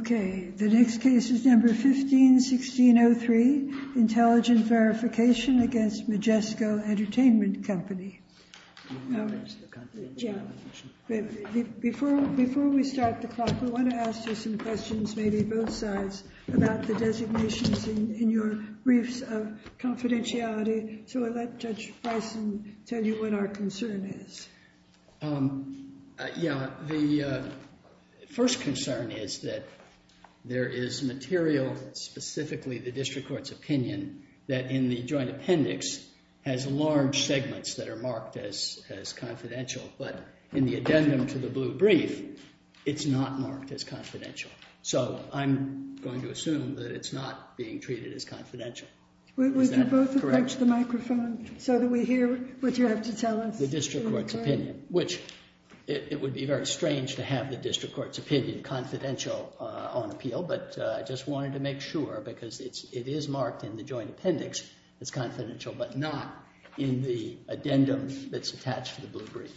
Okay, the next case is No. 15-1603, Intelligent Verification against Majesco Entertainment Company. Before we start the clock, we want to ask you some questions, maybe both sides, about the designations in your briefs of confidentiality. So I'll let Judge Bison tell you what our concern is. Yeah, the first concern is that there is material, specifically the district court's opinion, that in the joint appendix has large segments that are marked as confidential, but in the addendum to the blue brief, it's not marked as confidential. So I'm going to assume that it's not being treated as confidential. Would you both approach the microphone so that we hear what you have to tell us? The district court's opinion, which it would be very strange to have the district court's opinion confidential on appeal, but I just wanted to make sure because it is marked in the joint appendix as confidential, but not in the addendum that's attached to the brief.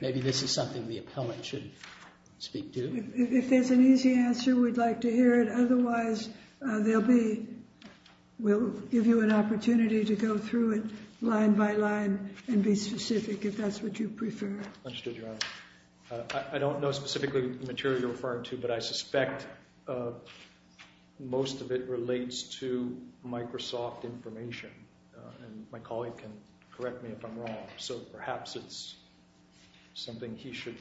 Maybe this is something the appellant should speak to. If there's an easy answer, we'd like to hear it. Otherwise, they'll be, we'll give you an opportunity to go through it line by line and be specific, if that's what you prefer. Understood, Your Honor. I don't know specifically the material you're referring to, but I perhaps it's something he should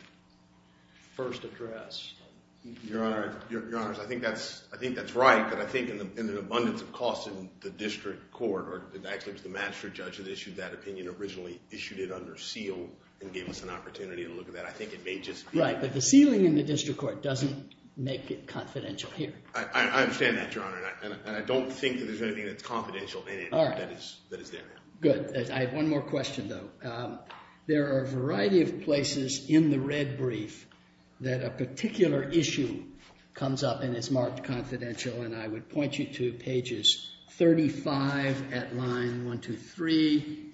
first address. Your Honor, I think that's right, but I think in an abundance of costs in the district court, or actually it was the master judge that issued that opinion originally, issued it under seal and gave us an opportunity to look at that. I think it may just be. Right, but the sealing in the district court doesn't make it confidential here. I understand that, Your Honor, and I don't think that there's anything that's confidential in it that is there. Good. I have one more question, though. There are a variety of places in the red brief that a particular issue comes up and is marked confidential, and I would point you to pages 35 at line 123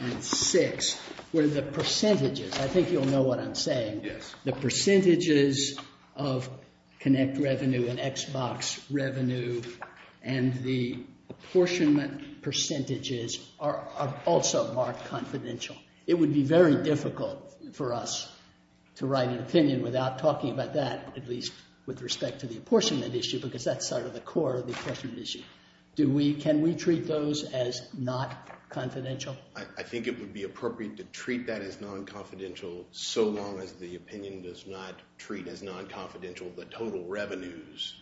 and 6, where the percentages, I think you'll know what I'm saying, the percentages of Connect Revenue and Xbox Revenue and the apportionment percentages are also marked confidential. It would be very difficult for us to write an opinion without talking about that, at least with respect to the apportionment issue, because that's sort of the core of the apportionment issue. Do we, can we treat those as not confidential? I think it would be appropriate to treat that as non-confidential so long as the opinion does not treat as non-confidential the total revenues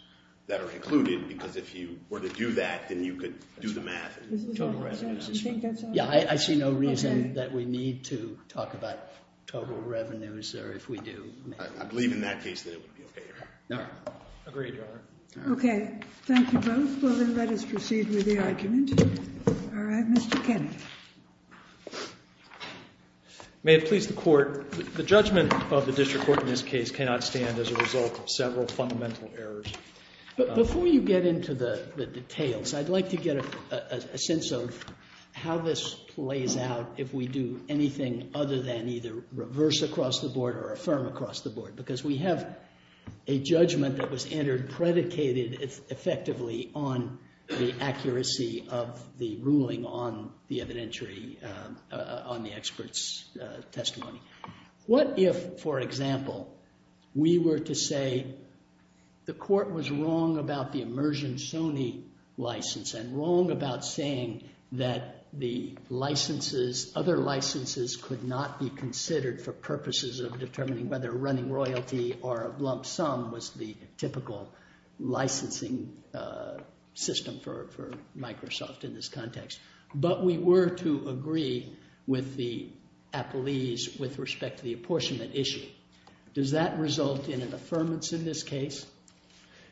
that are included, because if you were to do that, then you could do the math. Yeah, I see no reason that we need to talk about total revenues there if we do. I believe in that case that it would be okay, Your Honor. Agreed, Your Honor. Okay, thank you both. Well, then, let us proceed with the argument. All right, Mr. Kenney. May it please the Court, the judgment of the District Court in this case cannot stand as a result of several fundamental errors. Before you get into the details, I'd like to get a sense of how this plays out if we do anything other than either reverse across the board or affirm across the board, because we have a judgment that was entered, predicated effectively on the accuracy of the ruling on the evidentiary, on the expert's testimony. What if, for example, we were to say the Court was wrong about the Immersion Sony license and wrong about saying that the licenses, other licenses could not be considered for purposes of determining whether running royalty or a lump sum was the typical licensing system for Microsoft in this context, but we were to agree with the appellees with respect to the apportionment issue? Does that result in an affirmance in this case?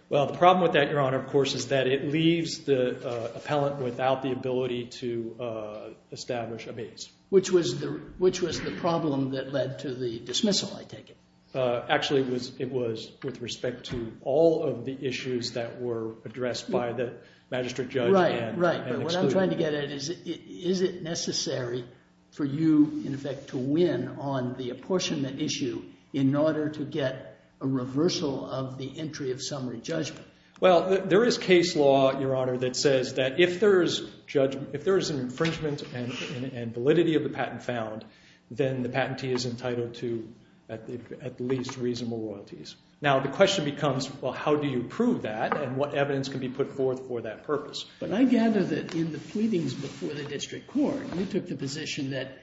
Well, the problem with that, Your Honor, of course, is that it leaves the appellant without the ability to establish a base. Which was the problem that led to the dismissal, I take it? Actually, it was with respect to all of the issues that were addressed by the magistrate judge and excluded. Right, but what I'm trying to get at is, is it necessary for you, in effect, to win on the apportionment issue in order to get a reversal of the entry of summary judgment? Well, there is case law, Your Honor, that says that if there is an infringement and validity of the patent found, then the patentee is entitled to at least reasonable royalties. Now, the question becomes, well, how do you prove that and what evidence can be put forth for that purpose? But I gather that in the pleadings before the district court, you took the position that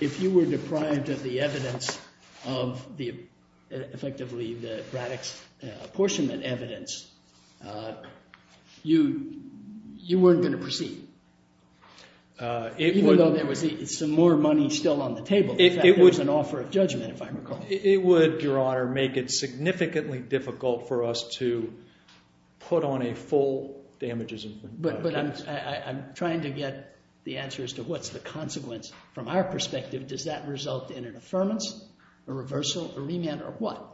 if you were deprived of the evidence of the, effectively, the Braddock's apportionment evidence, you weren't going to proceed. Even though there was some more money still on the table. In fact, there was an offer of judgment, if I recall. It would, Your Honor, make it significantly difficult for us to put on a full damages infringement. But I'm trying to get the answer as to what's the consequence. From our perspective, does that result in an affirmance, a reversal, a remand, or what?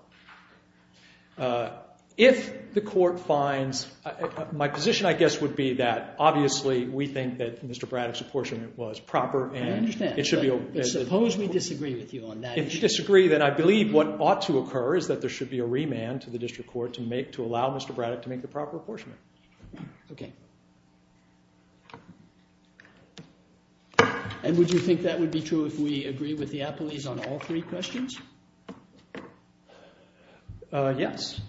If the court finds, my position, I guess, would be that, obviously, we think that Mr. Braddock's apportionment was proper and it should be... I understand, but suppose we disagree with you on that issue. If we disagree, then I believe what ought to occur is that there should be a remand to the district court to make, to allow Mr. Braddock to make the proper apportionment. Okay. And would you think that would be true if we agree with the appellees on all three questions? Yes.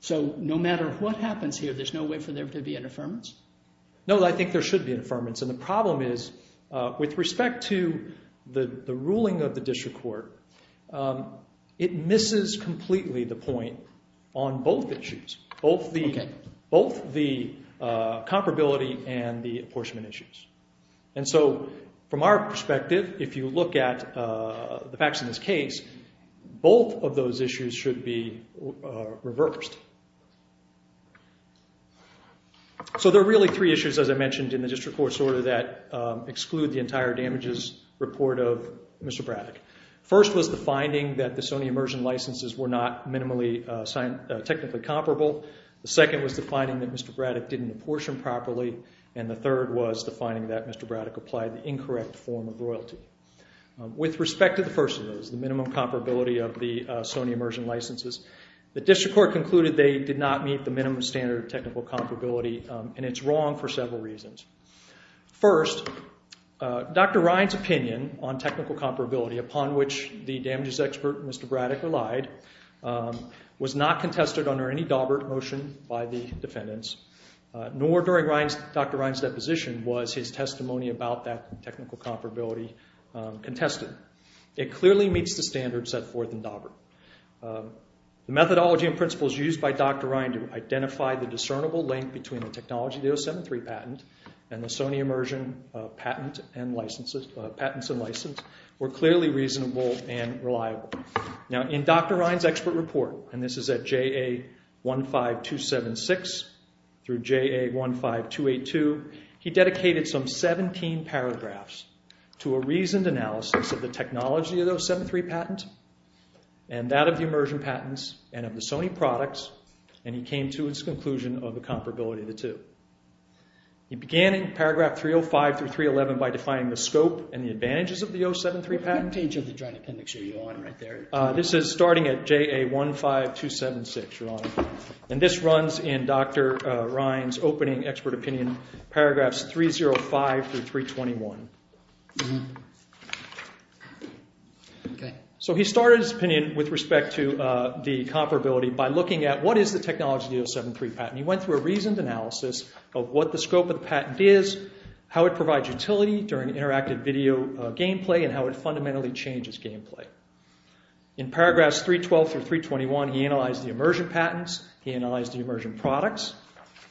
So, no matter what happens here, there's no way for there to be an affirmance? No, I think there should be an affirmance. And the problem is, with respect to the ruling of the district court, it misses completely the point on both issues, both the comparability and the apportionment issues. And so, from our perspective, if you look at the facts in this case, both of those issues should be reversed. So, there are really three issues, as I mentioned, in the district court's order that exclude the entire damages report of Mr. Braddock. First was the finding that the Sony Immersion licenses were not minimally technically comparable. The second was the finding that Mr. Braddock didn't apportion properly. And the third was the finding that Mr. Braddock applied the incorrect form of royalty. With respect to the first of those, the minimum comparability of the Sony Immersion licenses, the district court concluded they did not meet the minimum standard of technical comparability, and it's wrong for several reasons. First, Dr. Ryan's opinion on technical comparability, upon which the damages expert, Mr. Braddock, relied, was not contested under any Daubert motion by the defendants, nor during Dr. Ryan's deposition was his testimony about that technical comparability contested. It clearly meets the standards set forth in Daubert. The methodology and principles used by Dr. Ryan to identify the discernible link between the Technology 073 patent and the Sony Immersion patents and licenses were clearly reasonable and reliable. Now, in Dr. Ryan's expert report, and this is at JA 15276 through JA 15282, he dedicated some 17 paragraphs to a reasoned analysis of the technology of the 073 patent and that of the Immersion patents and of the Sony products, and he came to his conclusion of the comparability of the two. He began in paragraph 305 through 311 by defining the scope and the advantages of the 073 patent. What page of the joint appendix are you on right there? This is starting at JA 15276, Your Honor, and this runs in Dr. Ryan's opening expert opinion, paragraphs 305 through 321. So he started his opinion with respect to the comparability by looking at what is the technology of the 073 patent. He went through a reasoned analysis of what the scope of the patent is, how it provides utility during interactive video game play, and how it fundamentally changes game play. In paragraphs 312 through 321, he analyzed the Immersion patents, he analyzed the Immersion products,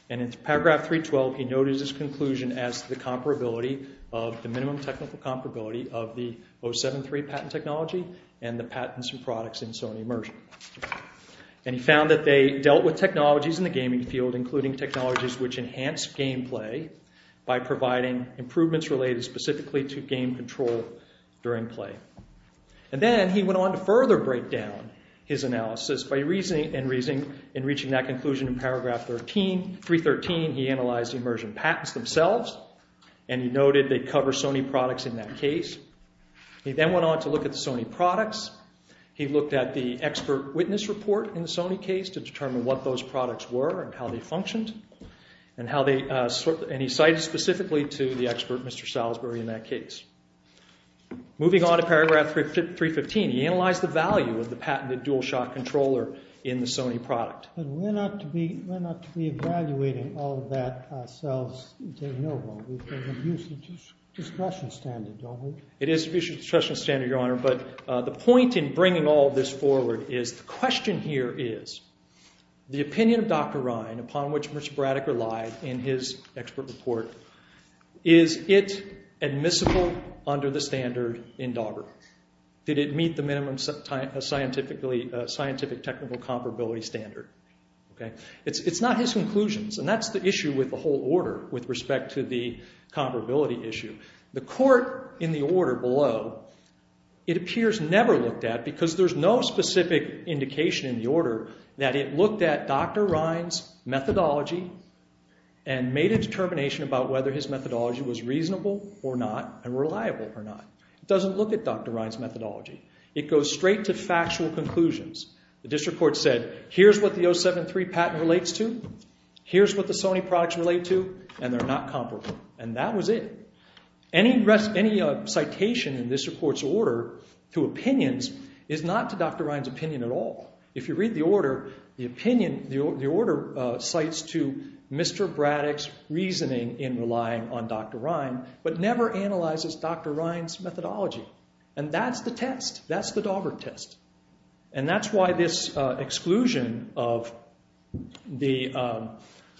and in paragraph 312, he noted his conclusion as the comparability of the minimum technical comparability of the 073 patent technology and the patents and products in Sony Immersion. And he found that they dealt with technologies in the gaming field, including technologies which enhance game play by providing improvements related specifically to game control during play. And then he went on to further break down his analysis by reasoning and reaching that conclusion in paragraph 313. He analyzed the Immersion patents themselves and he noted they cover Sony products in that case. He then went on to look at the Sony products. He looked at the expert witness report in the Sony case to determine what those products were and how they functioned and he cited specifically to the expert, Mr. Salisbury, in that case. Moving on to paragraph 315, he analyzed the value of the patented DualShock controller in the Sony product. But we're not to be evaluating all of that ourselves. We've got an abuse of discretion standard, don't we? It is an abuse of discretion standard, Your Honor, but the point in bringing all this forward is the question here is the opinion of Dr. Ryan, upon which Mr. Braddock relied in his expert report, is it admissible under the standard in Dauber? Did it meet the minimum scientific technical comparability standard? It's not his conclusions and that's the issue with the whole order with respect to the comparability issue. The court in the order below, it appears never looked at because there's no specific indication in the order that it looked at Dr. Ryan's methodology and made a determination about whether his methodology was reasonable or not and reliable or not. It doesn't look at Dr. Ryan's methodology. It goes straight to factual conclusions. The district court said, here's what the 073 patent relates to, here's what the Sony products relate to, and they're not comparable. And that was it. Any citation in this report's order to opinions is not to Dr. Ryan's opinion at all. If you read the order, the opinion, the order cites to Mr. Braddock's reasoning in relying on Dr. Ryan but never analyzes Dr. Ryan's methodology. And that's the test. That's the Dauber test. And that's why this exclusion of the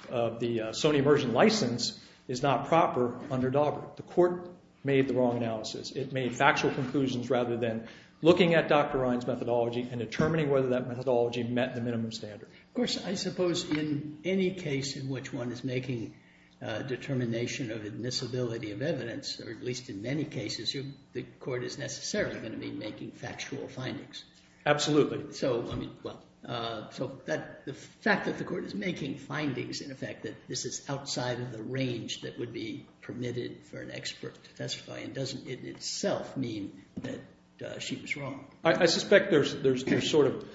Sony immersion license is not proper under Dauber. The court made the wrong analysis. It made factual conclusions rather than looking at Dr. Ryan's methodology and determining whether that methodology met the minimum standard. Of course, I suppose in any case in which one is making a determination of admissibility of evidence, or at least in many cases, the court is necessarily going to be making factual findings. Absolutely. So, I mean, well, so the fact that the court is making findings in effect, that this is outside of the range that would be permitted for an expert to testify doesn't in itself mean that she was wrong. I suspect there's sort of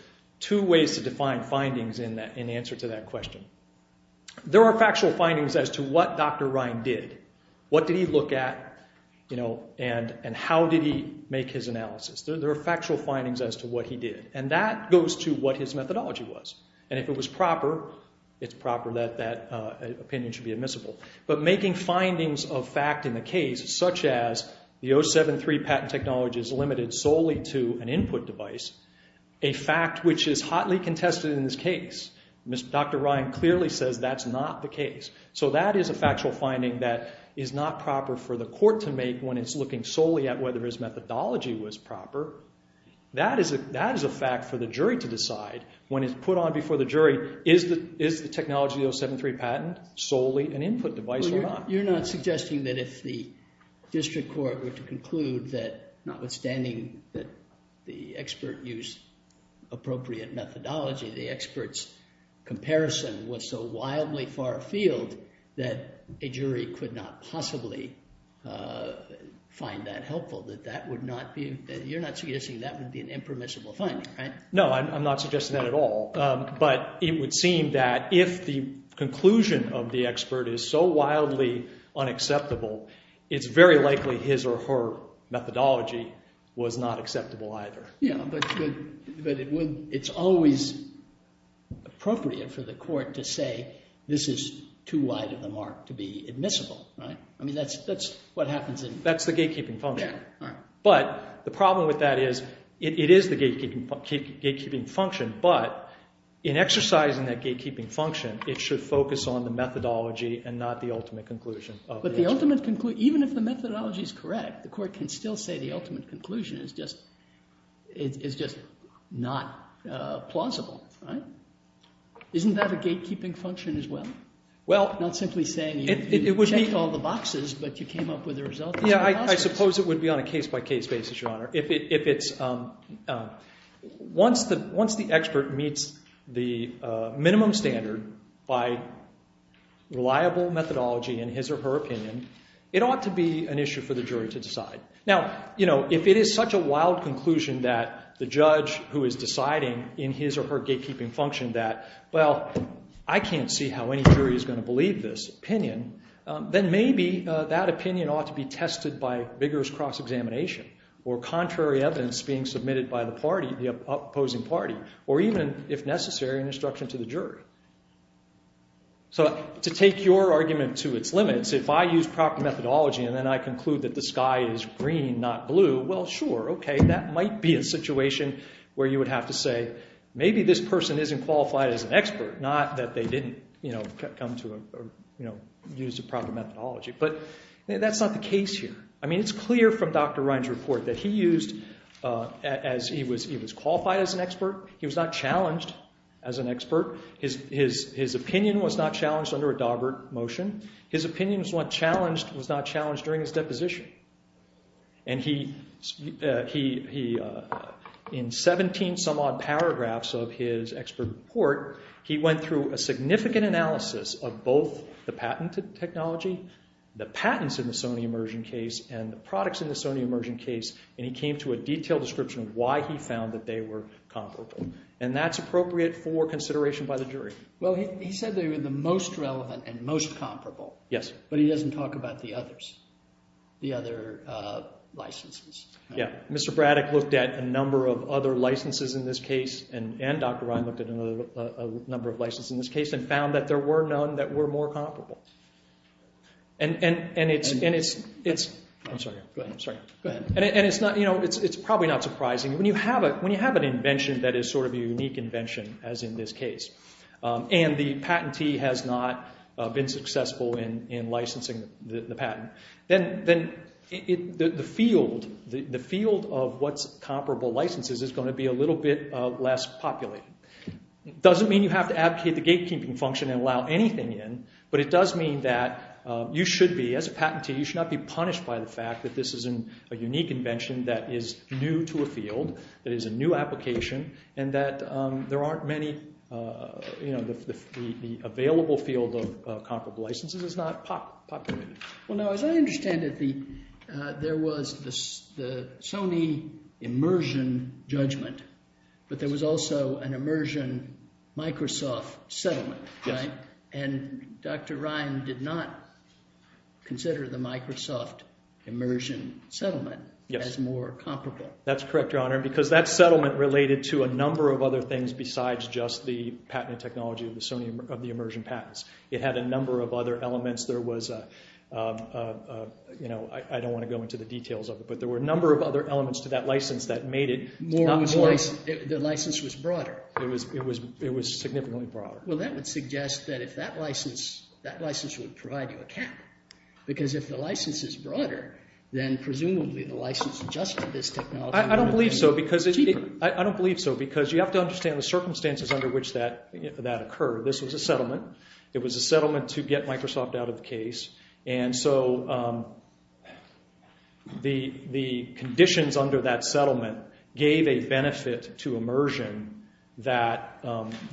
two ways to define findings in answer to that question. There are factual findings as to what Dr. Ryan did. What did he look at, you know, and how did he make his analysis? There are factual findings as to what he did. And that goes to what his methodology was. And if it was proper, it's proper that that opinion should be admissible. But making findings of fact in the case, such as the 073 patent technology is limited solely to an input device, a fact which is hotly contested in this case, Dr. Ryan clearly says that's not the case. So that is a factual finding that is not proper for the court to make when it's looking solely at whether his methodology was proper. That is a fact for the jury to decide when it's put on before the jury, is the technology of the 073 patent solely an input device or not? You're not suggesting that if the district court were to conclude that notwithstanding that the expert used appropriate methodology, the expert's comparison was so wildly far afield that a jury could not possibly find that helpful, that you're not suggesting that would be an impermissible finding, right? No, I'm not suggesting that at all. But it would seem that if the conclusion of the expert is so wildly unacceptable, it's very likely his or her methodology was not acceptable either. Yeah, but it's always appropriate for the court to say this is too wide of a mark to be admissible, right? I mean, that's what happens in... That's the gatekeeping function. But the problem with that is it is the gatekeeping function, but in exercising that gatekeeping function, it should focus on the methodology and not the ultimate conclusion. But even if the methodology is correct, the court can still say the ultimate conclusion is just not plausible, right? Isn't that a gatekeeping function as well? Well... Not simply saying you checked all the boxes, but you came up with a result... Yeah, I suppose it would be on a case-by-case basis, Your Honour. If it's... Once the expert meets the minimum standard by reliable methodology in his or her opinion, it ought to be an issue for the jury to decide. Now, you know, if it is such a wild conclusion that the judge who is deciding in his or her gatekeeping function that, well, I can't see how any jury is going to believe this opinion, then maybe that opinion ought to be tested by vigorous cross-examination or contrary evidence being submitted by the party, the opposing party, or even, if necessary, an instruction to the jury. So to take your argument to its limits, if I use proper methodology and then I conclude that the sky is green, not blue, well, sure, OK, that might be a situation where you would have to say maybe this person isn't qualified as an expert, not that they didn't, you know, use the proper methodology. But that's not the case here. I mean, it's clear from Dr. Ryan's report that he used... He was qualified as an expert. He was not challenged as an expert. His opinion was not challenged under a Daubert motion. His opinion was not challenged during his deposition. And he... In 17-some-odd paragraphs of his expert report, he went through a significant analysis of both the patented technology, the patents in the Sony Immersion case, and the products in the Sony Immersion case, and he came to a detailed description of why he found that they were comparable. And that's appropriate for consideration by the jury. Well, he said they were the most relevant and most comparable. Yes. But he doesn't talk about the others, the other licences. Yeah. Mr. Braddock looked at a number of other licences in this case and Dr. Ryan looked at a number of licences in this case and found that there were none that were more comparable. And it's... I'm sorry. Go ahead. I'm sorry. Go ahead. And it's probably not surprising. When you have an invention that is sort of a unique invention, as in this case, and the patentee has not been successful in licensing the patent, then the field of what's comparable licences is going to be a little bit less populated. It doesn't mean you have to abdicate the gatekeeping function and allow anything in, but it does mean that you should be... As a patentee, you should not be punished by the fact that this is a unique invention that is new to a field, that is a new application, and that there aren't many... You know, the available field of comparable licences is not populated. Well, now, as I understand it, there was the Sony immersion judgment, but there was also an immersion Microsoft settlement, right? Yes. And Dr. Ryan did not consider the Microsoft immersion settlement as more comparable. Yes. That's correct, Your Honor, because that settlement related to a number of other things besides just the patent and technology of the Sony... of the immersion patents. It had a number of other elements. There was a... You know, I don't want to go into the details of it, but there were a number of other elements to that licence that made it not more... The licence was broader. It was significantly broader. Well, that would suggest that if that licence... that licence would provide you a cap, because if the licence is broader, then presumably the licence adjusted this technology... I don't believe so, because it... I don't believe so, because you have to understand the circumstances under which that occurred. This was a settlement. It was a settlement to get Microsoft out of the case, and so the conditions under that settlement gave a benefit to immersion that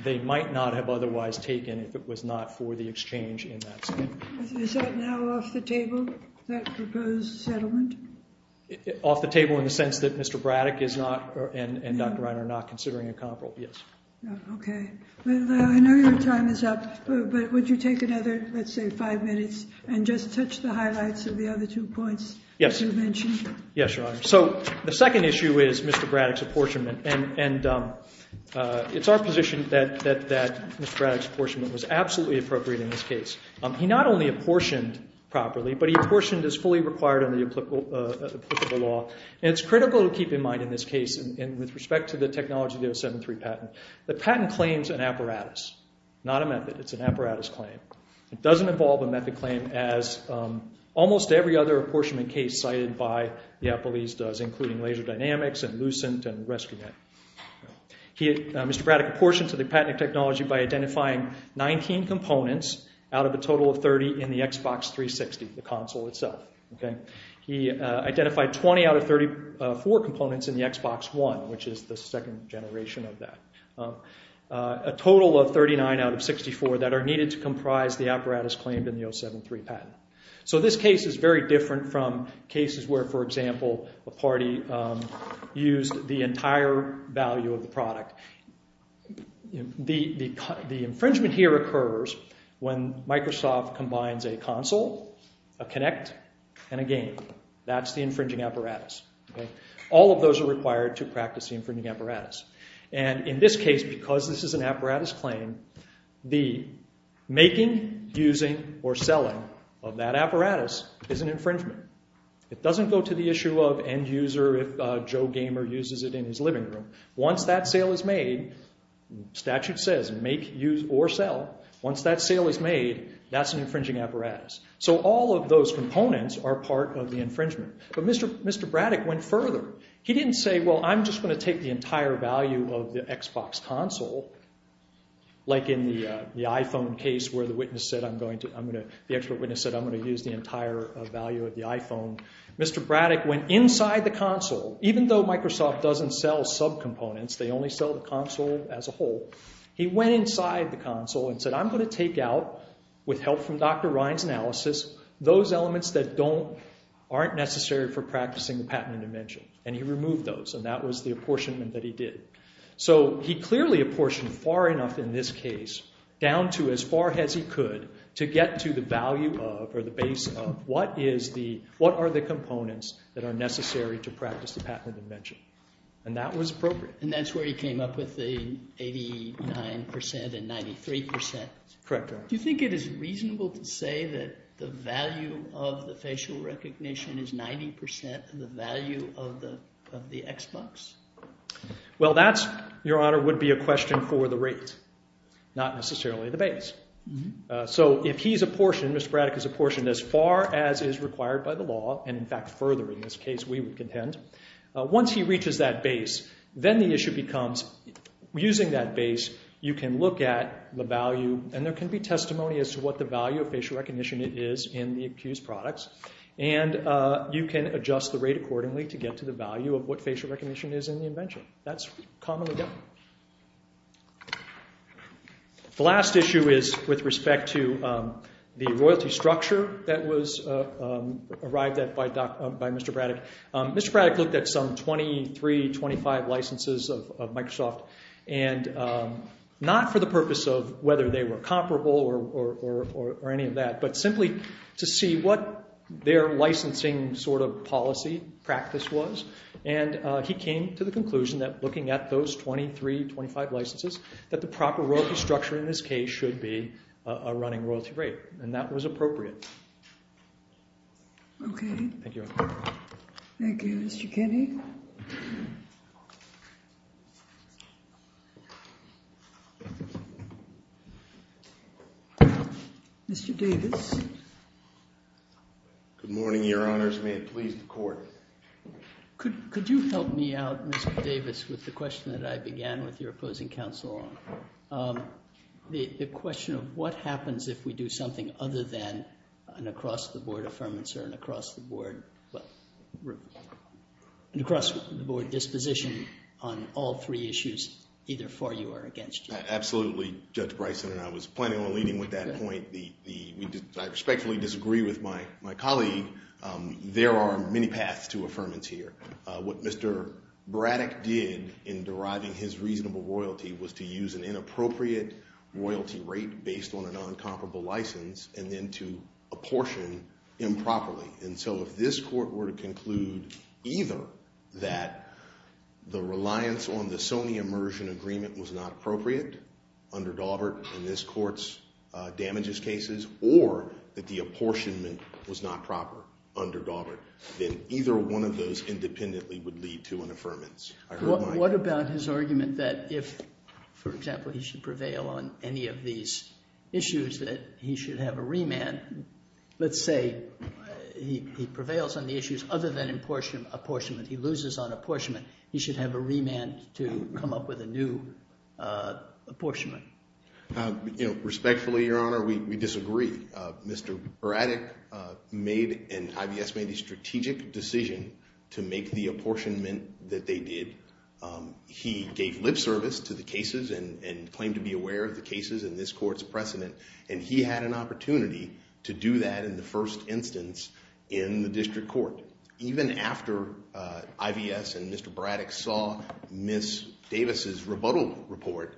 they might not have otherwise taken if it was not for the exchange in that settlement. Is that now off the table, that proposed settlement? Off the table in the sense that Mr. Braddock is not... and Dr. Ryan are not considering a comparable... Yes. Okay. Well, I know your time is up, but would you take another, let's say, five minutes and just touch the highlights of the other two points you mentioned? Yes. Yes, Your Honour. So the second issue is Mr. Braddock's apportionment, and it's our position that Mr. Braddock's apportionment was absolutely appropriate in this case. He not only apportioned properly, but he apportioned as fully required under the applicable law, and it's critical to keep in mind in this case, and with respect to the technology of the 073 patent, the patent claims an apparatus, not a method. It's an apparatus claim. It doesn't involve a method claim as almost every other apportionment case cited by the appellees does, including Laser Dynamics and Lucent and Rescuet. Mr. Braddock apportioned to the patented technology by identifying 19 components out of a total of 30 in the Xbox 360, the console itself, okay? He identified 20 out of 34 components in the Xbox One, which is the second generation of that. A total of 39 out of 64 that are needed to comprise the apparatus claimed in the 073 patent. So this case is very different from cases where, for example, a party used the entire value of the product. The infringement here occurs when Microsoft combines a console, a Kinect, and a game. That's the infringing apparatus, okay? All of those are required to practice the infringing apparatus. And in this case, because this is an apparatus claim, the making, using, or selling of that apparatus is an infringement. It doesn't go to the issue of end user if Joe Gamer uses it in his living room. Once that sale is made, statute says make, use, or sell. Once that sale is made, that's an infringing apparatus. So all of those components are part of the infringement. But Mr. Braddock went further. He didn't say, well, I'm just gonna take the entire value of the Xbox console like in the iPhone case where the expert witness said, I'm gonna use the entire value of the iPhone. Mr. Braddock went inside the console. Even though Microsoft doesn't sell subcomponents, they only sell the console as a whole. He went inside the console and said, I'm gonna take out, with help from Dr. Ryan's analysis, those elements that aren't necessary for practicing the patented invention. And he removed those, and that was the apportionment that he did. So he clearly apportioned far enough in this case down to as far as he could to get to the value of, or the base of, what is the, what are the components that are necessary to practice the patented invention. And that was appropriate. And that's where he came up with the 89% and 93%. Correct, right. Do you think it is reasonable to say that the value of the facial recognition is 90% of the value of the Xbox? Well, that's, Your Honor, would be a question for the rate, not necessarily the base. So if he's apportioned, Mr. Braddock is apportioned as far as is required by the law, and in fact further in this case, we would contend. Once he reaches that base, then the issue becomes, using that base, you can look at the value, and there can be testimony as to what the value of facial recognition is in the accused products. And you can adjust the rate accordingly to get to the value of what facial recognition is in the invention. That's commonly done. The last issue is with respect to the royalty structure that was arrived at by Mr. Braddock. Mr. Braddock looked at some 23, 25 licenses of Microsoft, and not for the purpose of whether they were comparable or any of that, but simply to see what their licensing sort of policy practice was. And he came to the conclusion that looking at those 23, 25 licenses, that the proper royalty structure in this case should be a running royalty rate, and that was appropriate. Okay. Thank you. Thank you. Mr. Kinney? Mr. Davis? Good morning, Your Honors. May it please the Court. Could you help me out, Mr. Davis, with the question that I began with your opposing counsel on? The question of what happens if we do something other than an across-the-board affirmance or an across-the-board disposition on all three issues, either for you or against you? Absolutely, Judge Bryson, and I was planning on leading with that point. I respectfully disagree with my colleague. There are many paths to affirmance here. What Mr. Braddock did in deriving his reasonable royalty was to use an inappropriate royalty rate based on an uncomparable license and then to apportion improperly. And so if this court were to conclude either that the reliance on the Sony immersion agreement was not appropriate under Daubert in this court's damages cases or that the apportionment was not proper, under Daubert, then either one of those independently would lead to an affirmance. What about his argument that if, for example, he should prevail on any of these issues that he should have a remand? Let's say he prevails on the issues other than apportionment. He loses on apportionment. He should have a remand to come up with a new apportionment. Respectfully, Your Honor, we disagree. Mr. Braddock made and IVS made a strategic decision to make the apportionment that they did. He gave lip service to the cases and claimed to be aware of the cases in this court's precedent and he had an opportunity to do that in the first instance in the district court. Even after IVS and Mr. Braddock saw Ms. Davis's rebuttal report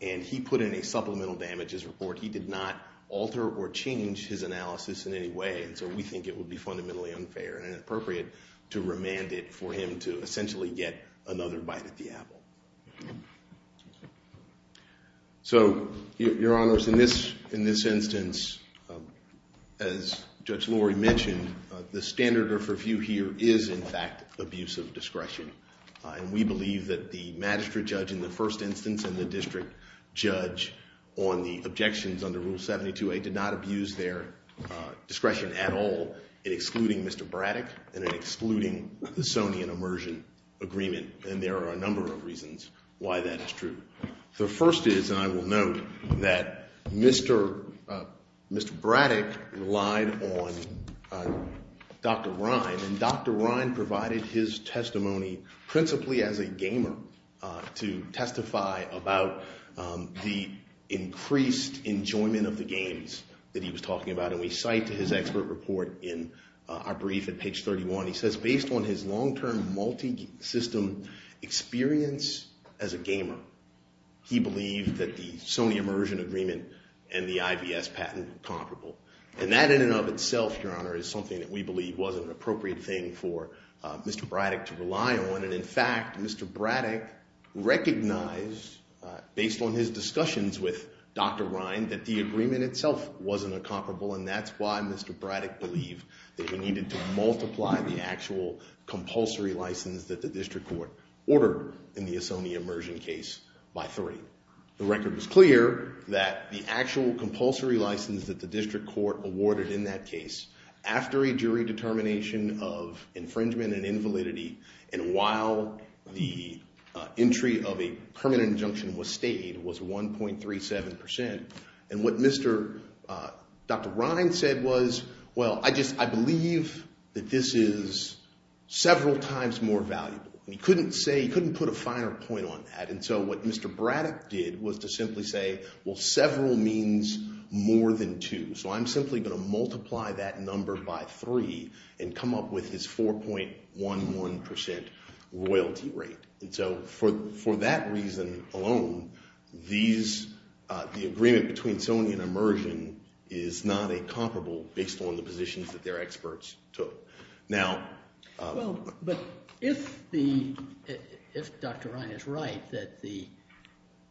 and he put in a supplemental damages report, he did not alter or change his analysis in any way and so we think it would be fundamentally unfair and inappropriate to remand it for him to essentially get another bite at the apple. So, Your Honors, in this instance, as Judge Lori mentioned, the standard of review here is in fact abuse of discretion and we believe that the magistrate judge in the first instance and the district judge on the objections under Rule 72A did not abuse their discretion at all in excluding Mr. Braddock and in excluding the Sonian Immersion Agreement and there are a number of reasons why that is true. The first is and I will note that Mr. Braddock relied on Dr. Ryan and Dr. Ryan provided his testimony principally as a gamer to testify about the increased enjoyment of the games that he was talking about and we cite to his expert report in our brief at page 31 he says based on his long-term multi-system experience as a gamer he believed that the Sonian Immersion Agreement and the IVS patent were comparable and that in and of itself Your Honor is something that we believe was an appropriate thing for Mr. Braddock to rely on and in fact Mr. Braddock recognized based on his discussions with Dr. Ryan that the agreement itself wasn't a comparable and that's why Mr. Braddock believed that he needed to multiply the actual compulsory license that the district court ordered in the Sonian Immersion case by three. The record was clear that the actual compulsory license that the district court awarded in that case after a jury determination of infringement and invalidity and while the entry of a permanent injunction was stayed was 1.37 percent and what Mr. Dr. Ryan said was well I just I believe that this is several times more valuable and he couldn't say he couldn't put a finer point on that and so what Mr. Braddock did was to simply say well several means more than two so I'm simply going to multiply that number by three and come up with his 4.11 percent royalty rate and so for that reason alone these the agreement between Sonian Immersion is not a comparable based on the positions that their experts took. Now well but if the if Dr. Ryan is right that the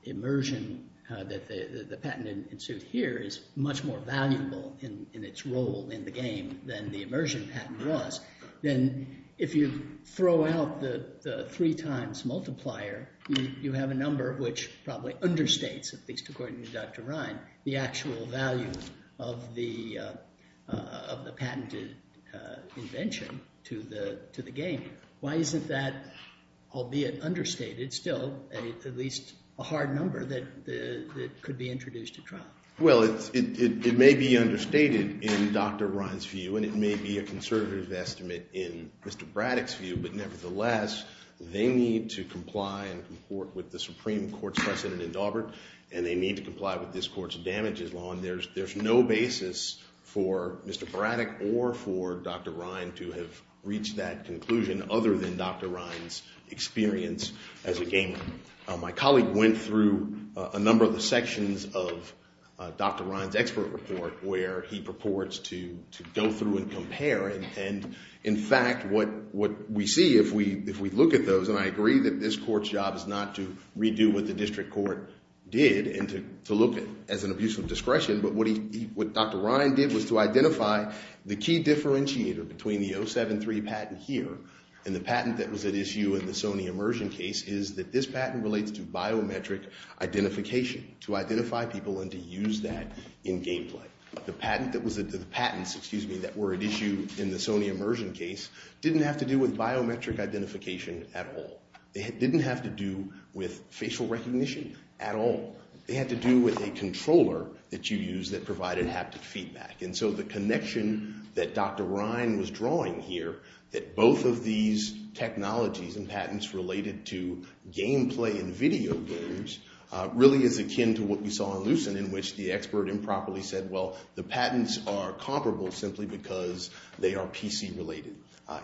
Immersion that the patent ensued here is much more valuable in its role in the game than the Immersion patent was then if you throw out the three times multiplier you have a number which probably understates at least according to Dr. Ryan the actual value of the of the patented invention to the to the game why isn't that albeit understated still at least a hard number that could be introduced to trial? Well it may be understated in Dr. Ryan's view and it may be a conservative estimate in Mr. Braddock's view but nevertheless they need to comply and comport with the Supreme Court precedent in Daubert and they need to comply with this court's damages law and there's there's no basis for Mr. Braddock or for Dr. Ryan to come to that conclusion other than Dr. Ryan's experience as a gamer. My colleague went through a number of the sections of Dr. Ryan's expert report where he purports to go through and compare and in fact what we see if we look at the patent that was at issue in the Sony Immersion case is that this patent relates to biometric identification to identify people and to use that in gameplay. The patents that were at issue in the Sony Immersion case didn't have to do with biometric identification at all. It didn't have to do with facial recognition at all. It had to do with a controller that you use that provided haptic feedback. And so the connection that Dr. Ryan was drawing here that both of these technologies and patents related to gameplay and video games really is akin to what we saw in Lucent in which the expert improperly said well the patents are comparable simply because they are PC related.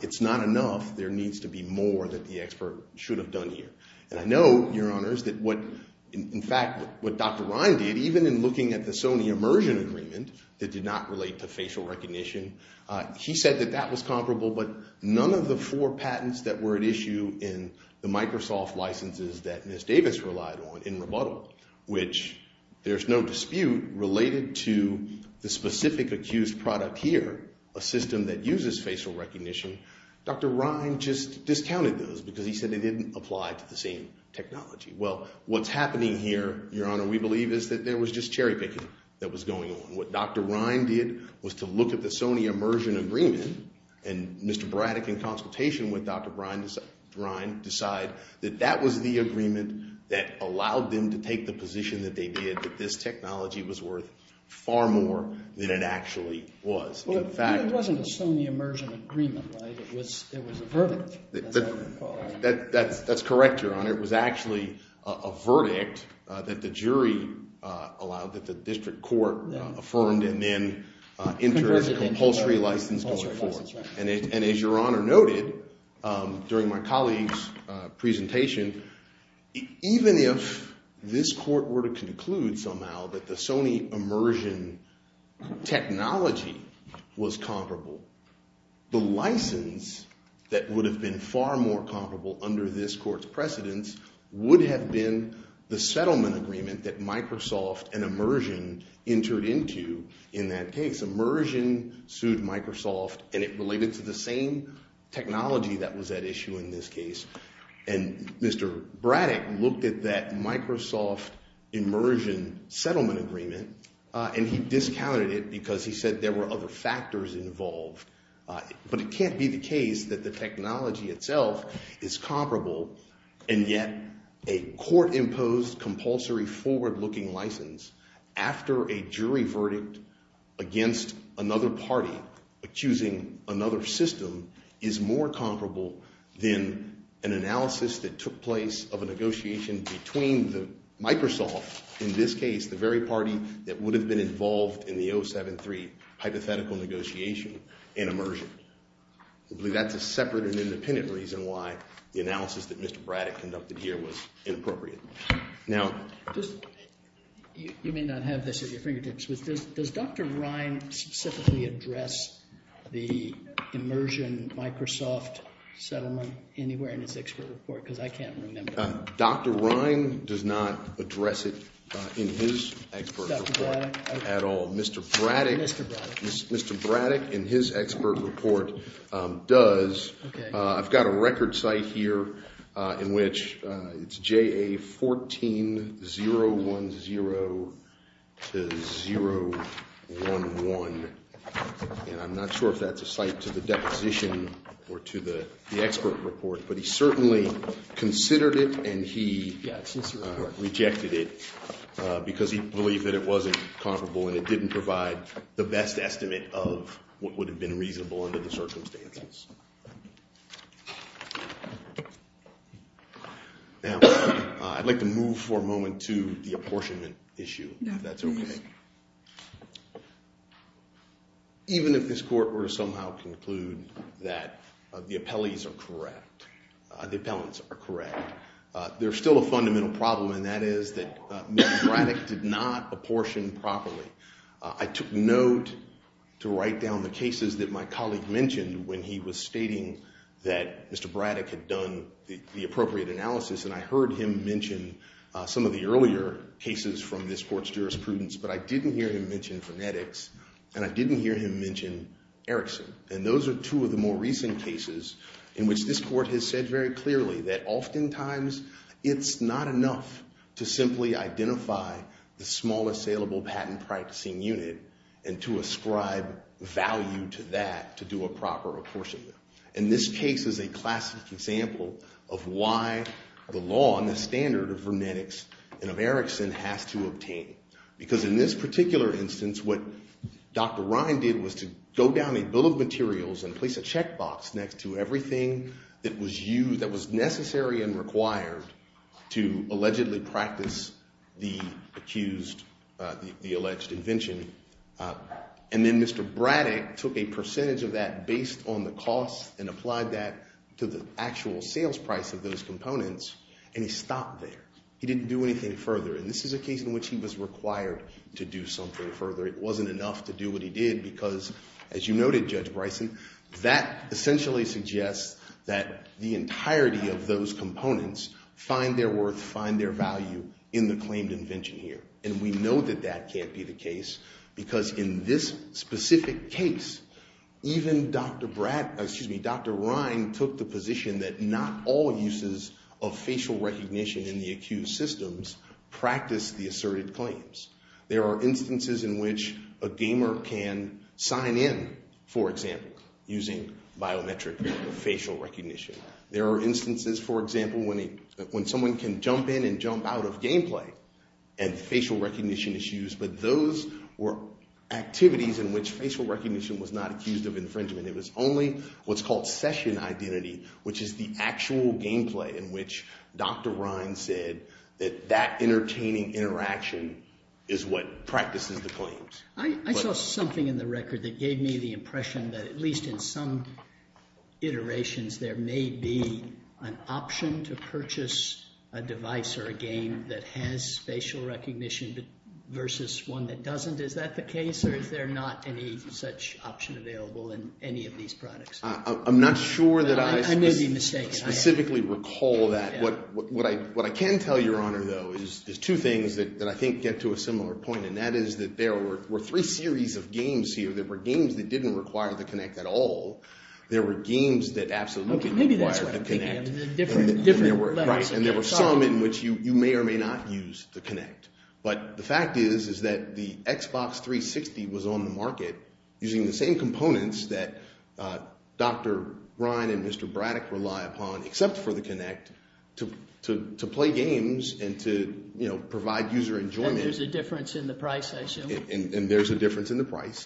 It's not enough. There needs to be more that the expert should have done here. And I know your honors that what in fact what Dr. Ryan did even in looking at the Sony Immersion Agreement that did not relate to facial recognition. He said that that was comparable but none of the four patents that were at issue in the Microsoft licenses that Ms. Davis relied on in Rebuttal which there's no dispute related to the specific accused product here. A system that uses facial recognition. Dr. Ryan just discounted those because he said they didn't apply to the same technology. Well what's happening here your honor it was just cherry picking that was going on. What Dr. Ryan did was to look at the Sony Immersion Agreement and Mr. Braddock in consultation with Dr. Ryan decide that that was the agreement that allowed them to take the position that they did that this technology was worth far more than it actually was. It wasn't allowed that the district court affirmed and then entered compulsory license. And as your honor noted during my colleagues presentation even if this court were to conclude somehow that the Sony Immersion Technology was comparable. The license that would have been far more comparable under this court's precedence would have been the settlement agreement that Microsoft and Immersion entered into in that case. Immersion sued Microsoft and it related to the same technology that was at issue in this case. And Mr. Braddock looked at that Microsoft Immersion settlement agreement and he discounted it because he said there were other factors involved. But it can't be the case that the technology itself is comparable and yet a court-imposed compulsory forward-looking license after a jury verdict against another party accusing another system is more comparable than an analysis that took place of a negotiation between the Microsoft in this case, the very party that would have been in the 073 hypothetical negotiation in Immersion. I believe that's a separate and independent reason why the analysis that Mr. Braddock conducted here was inappropriate. Now... You may not have this at your fingertips but does Dr. Ryan specifically address the Immersion Microsoft settlement anywhere in his expert report? Because I can't remember. Dr. Ryan does not address it in his expert report at all. Mr. Braddock in his expert report does. I've got a record site here in which it's JA 14 010 to 011 and I'm not sure if that's a site to the deposition or to the expert report but he certainly considered it and he rejected it because he believed that it wasn't comparable and it didn't provide the best estimate of what would have been reasonable under the circumstances. Now I'd like to move for a moment to the apportionment issue. Even if this court were to somehow conclude that the appellees are correct the appellants are correct there's still a fundamental problem and that is that Mr. Braddock did not apportion properly. I took note to write down the cases that my colleague mentioned when he was stating that Mr. Braddock had done the appropriate analysis and I heard him mention some of the earlier cases from this court's jurisprudence but I didn't hear him mention phonetics and I didn't hear him mention Erickson and those are two of the more recent cases in which this court has said very clearly that oftentimes it's not enough to simply identify the small assailable patent practicing unit and to in this particular instance what Dr. Ryan did was to go down a bill of materials and place a check box next to everything that was necessary and required to allegedly practice the accused the alleged invention and then Mr. Braddock took a percentage of that based on the cost and applied that to the actual sales price of those components and he stopped there. He didn't do anything further and this is a case in which he was required to do something further. It wasn't enough to do what he did because as you noted Judge Bryson that essentially suggests that the entirety of those components find their worth find their value in the claimed invention here and we know that that can't be the case because in this specific case even Dr. Ryan took the position that not all uses of facial recognition in the accused systems practice the asserted claims. There are instances in which a gamer can sign in for example using biometric facial recognition. There are instances for example when someone can jump in and jump out of gameplay and facial recognition issues but those were activities in which facial recognition was not accused of infringement. It was only what's called session identity which is the actual gameplay in which Dr. Ryan said that that entertaining interaction is what practices the claims. I saw something in the record that gave me the impression that at least in some iterations there may be an option to purchase a device or a game that has facial recognition versus one that doesn't. Is that the case or is there not any such option available in any of these products? I'm not sure that I specifically recall that. What I can tell your honor though is two things that I think get to a similar point and that is that there were three series of games here that were games that didn't require the Kinect at all. There were some in which you may or may not use the Kinect. But the fact is that the Xbox 360 was on the market using the same components that Dr. Ryan and Mr. Braddock rely upon except for the Kinect to play games and to provide user enjoyment. And there's a difference in the price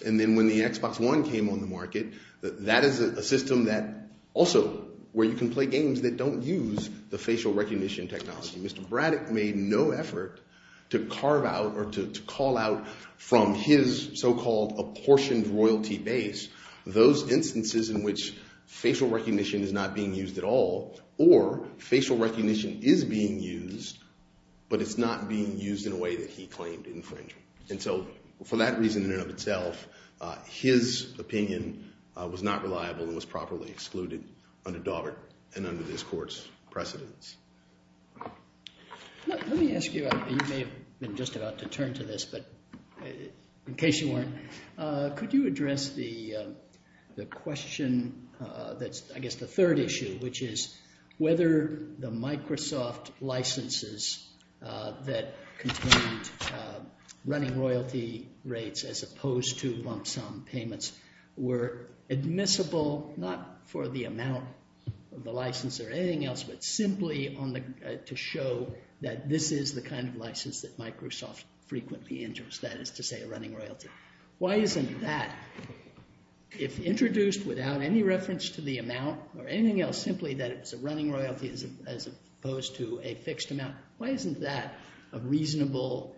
and then when the Xbox One came on the market that is a system that also where you can play games that don't use the facial recognition technology. Mr. Braddock made no effort to carve out or to call out from his so-called apportioned royalty base those licenses. For that reason in and of itself his opinion was not reliable and was properly excluded under Daubert and under this court's precedence. Let me ask you you may have been just about to turn to this but in case you weren't could you address the question that's I guess the third issue which is whether the Microsoft licenses that contained running royalty rates as opposed to lump sum payments were admissible not for the amount of the license or anything else but simply to show that this is the kind of license that Microsoft frequently enters that is to say a running royalty. Why isn't that if introduced without any reference to the amount or anything else simply that it's a running royalty as opposed to a fixed amount why isn't that a reasonable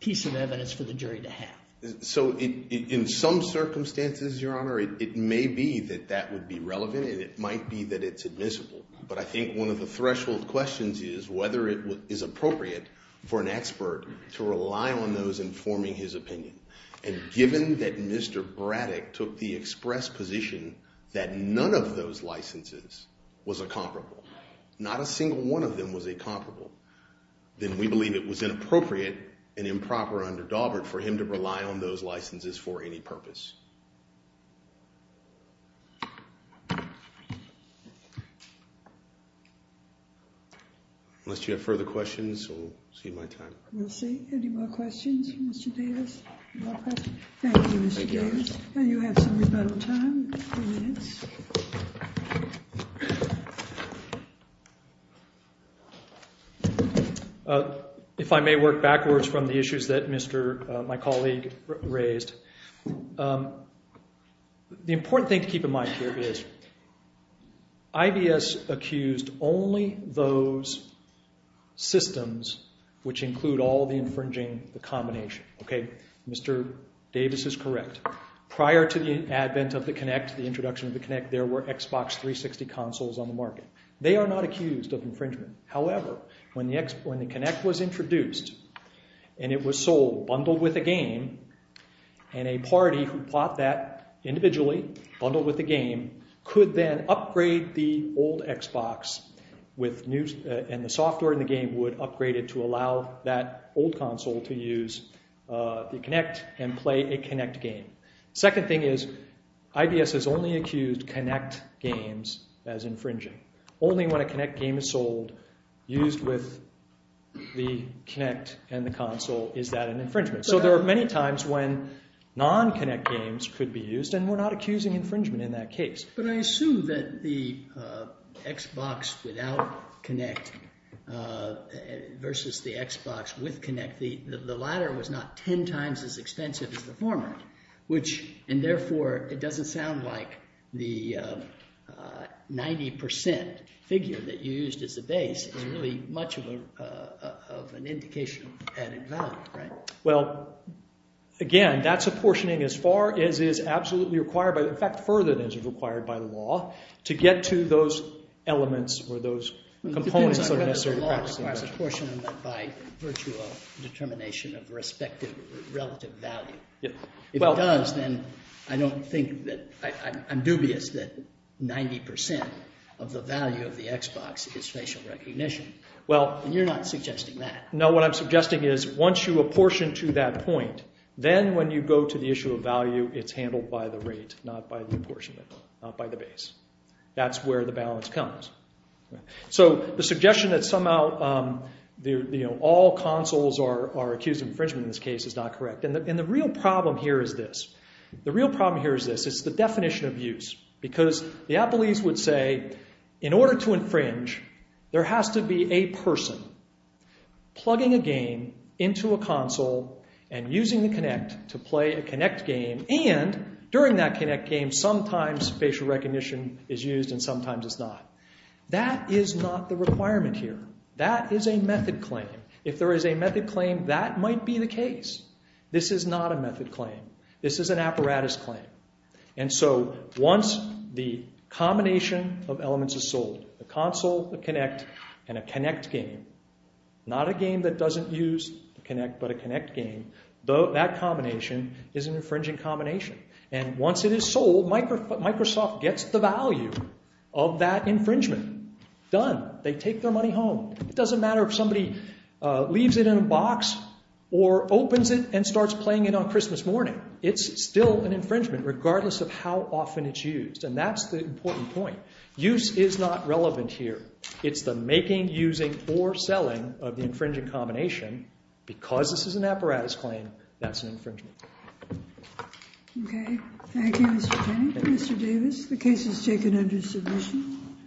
piece of evidence for the jury to have? So in some circumstances your honor it may be that that would be relevant and it might be that it's admissible but I think one of the threshold questions is whether it is appropriate for an expert to rely on those informing his opinion and given that Mr. Braddock took the express position that none of those licenses was a comparable not a single one of them was a comparable then we believe it was inappropriate and improper under Daubert for him to rely on those licenses for any purpose. Unless you have further questions we'll see my time. We'll see. Any more questions Mr. Davis? Thank you Mr. Davis. If I may work backwards from the issues that Mr. my colleague raised the important thing to keep in mind here is IBS accused only those systems which include all the infringing the combination okay Mr. Davis is correct prior to the advent of the Kinect the introduction of the Kinect there were Xbox 360 consoles on the market. They are not accused of infringement. However when the Kinect was introduced and it was sold bundled with a game and a party who bought that Kinect and play a Kinect game second thing is IBS has only accused Kinect games as infringing only when a Kinect game is sold used with the Kinect and the console is that an infringement so there are many times when non-Kinect games could be used and we're not accusing infringement in that Kinect games are 10 times as expensive as the former and therefore it doesn't sound like the 90% figure that you used as a base is really much of an indication of added value. Well again that's apportioning as far as is absolutely required but in fact further than is required by the law to get to those elements or those components that are necessary by virtue of determination of respective relative value if it does then I don't think that I'm dubious that 90% of the value of the Xbox is facial recognition and you're not suggesting that. No what I'm suggesting is once you apportion to that point then when you go to the issue of value it's handled by the rate not by the apportionment not by the base that's where the balance comes. So the suggestion that somehow all consoles are accused of infringement in this case is not correct and the real problem here is this it's the definition of use because the Appleese would say in order to infringe there has to be a person plugging a game into a console and using the connect game and during that connect game sometimes facial recognition is used and sometimes it's not. That is not the requirement here. That is a method claim. If there is a method claim that might be the case. This is not a method This is an infringing combination and once it is sold Microsoft gets the value of that infringement. Done. They take their money home. It doesn't matter if somebody leaves it in a box or opens it and starts playing it on Christmas morning. It's still an infringement regardless of how often it's used. And that's the important point. Use is not relevant here. It's the making, using, or selling of the infringing combination. Because this is an apparatus claim that's an infringement. Okay. Thank you Mr. Kenny. Mr. Davis. The case is taken under submission.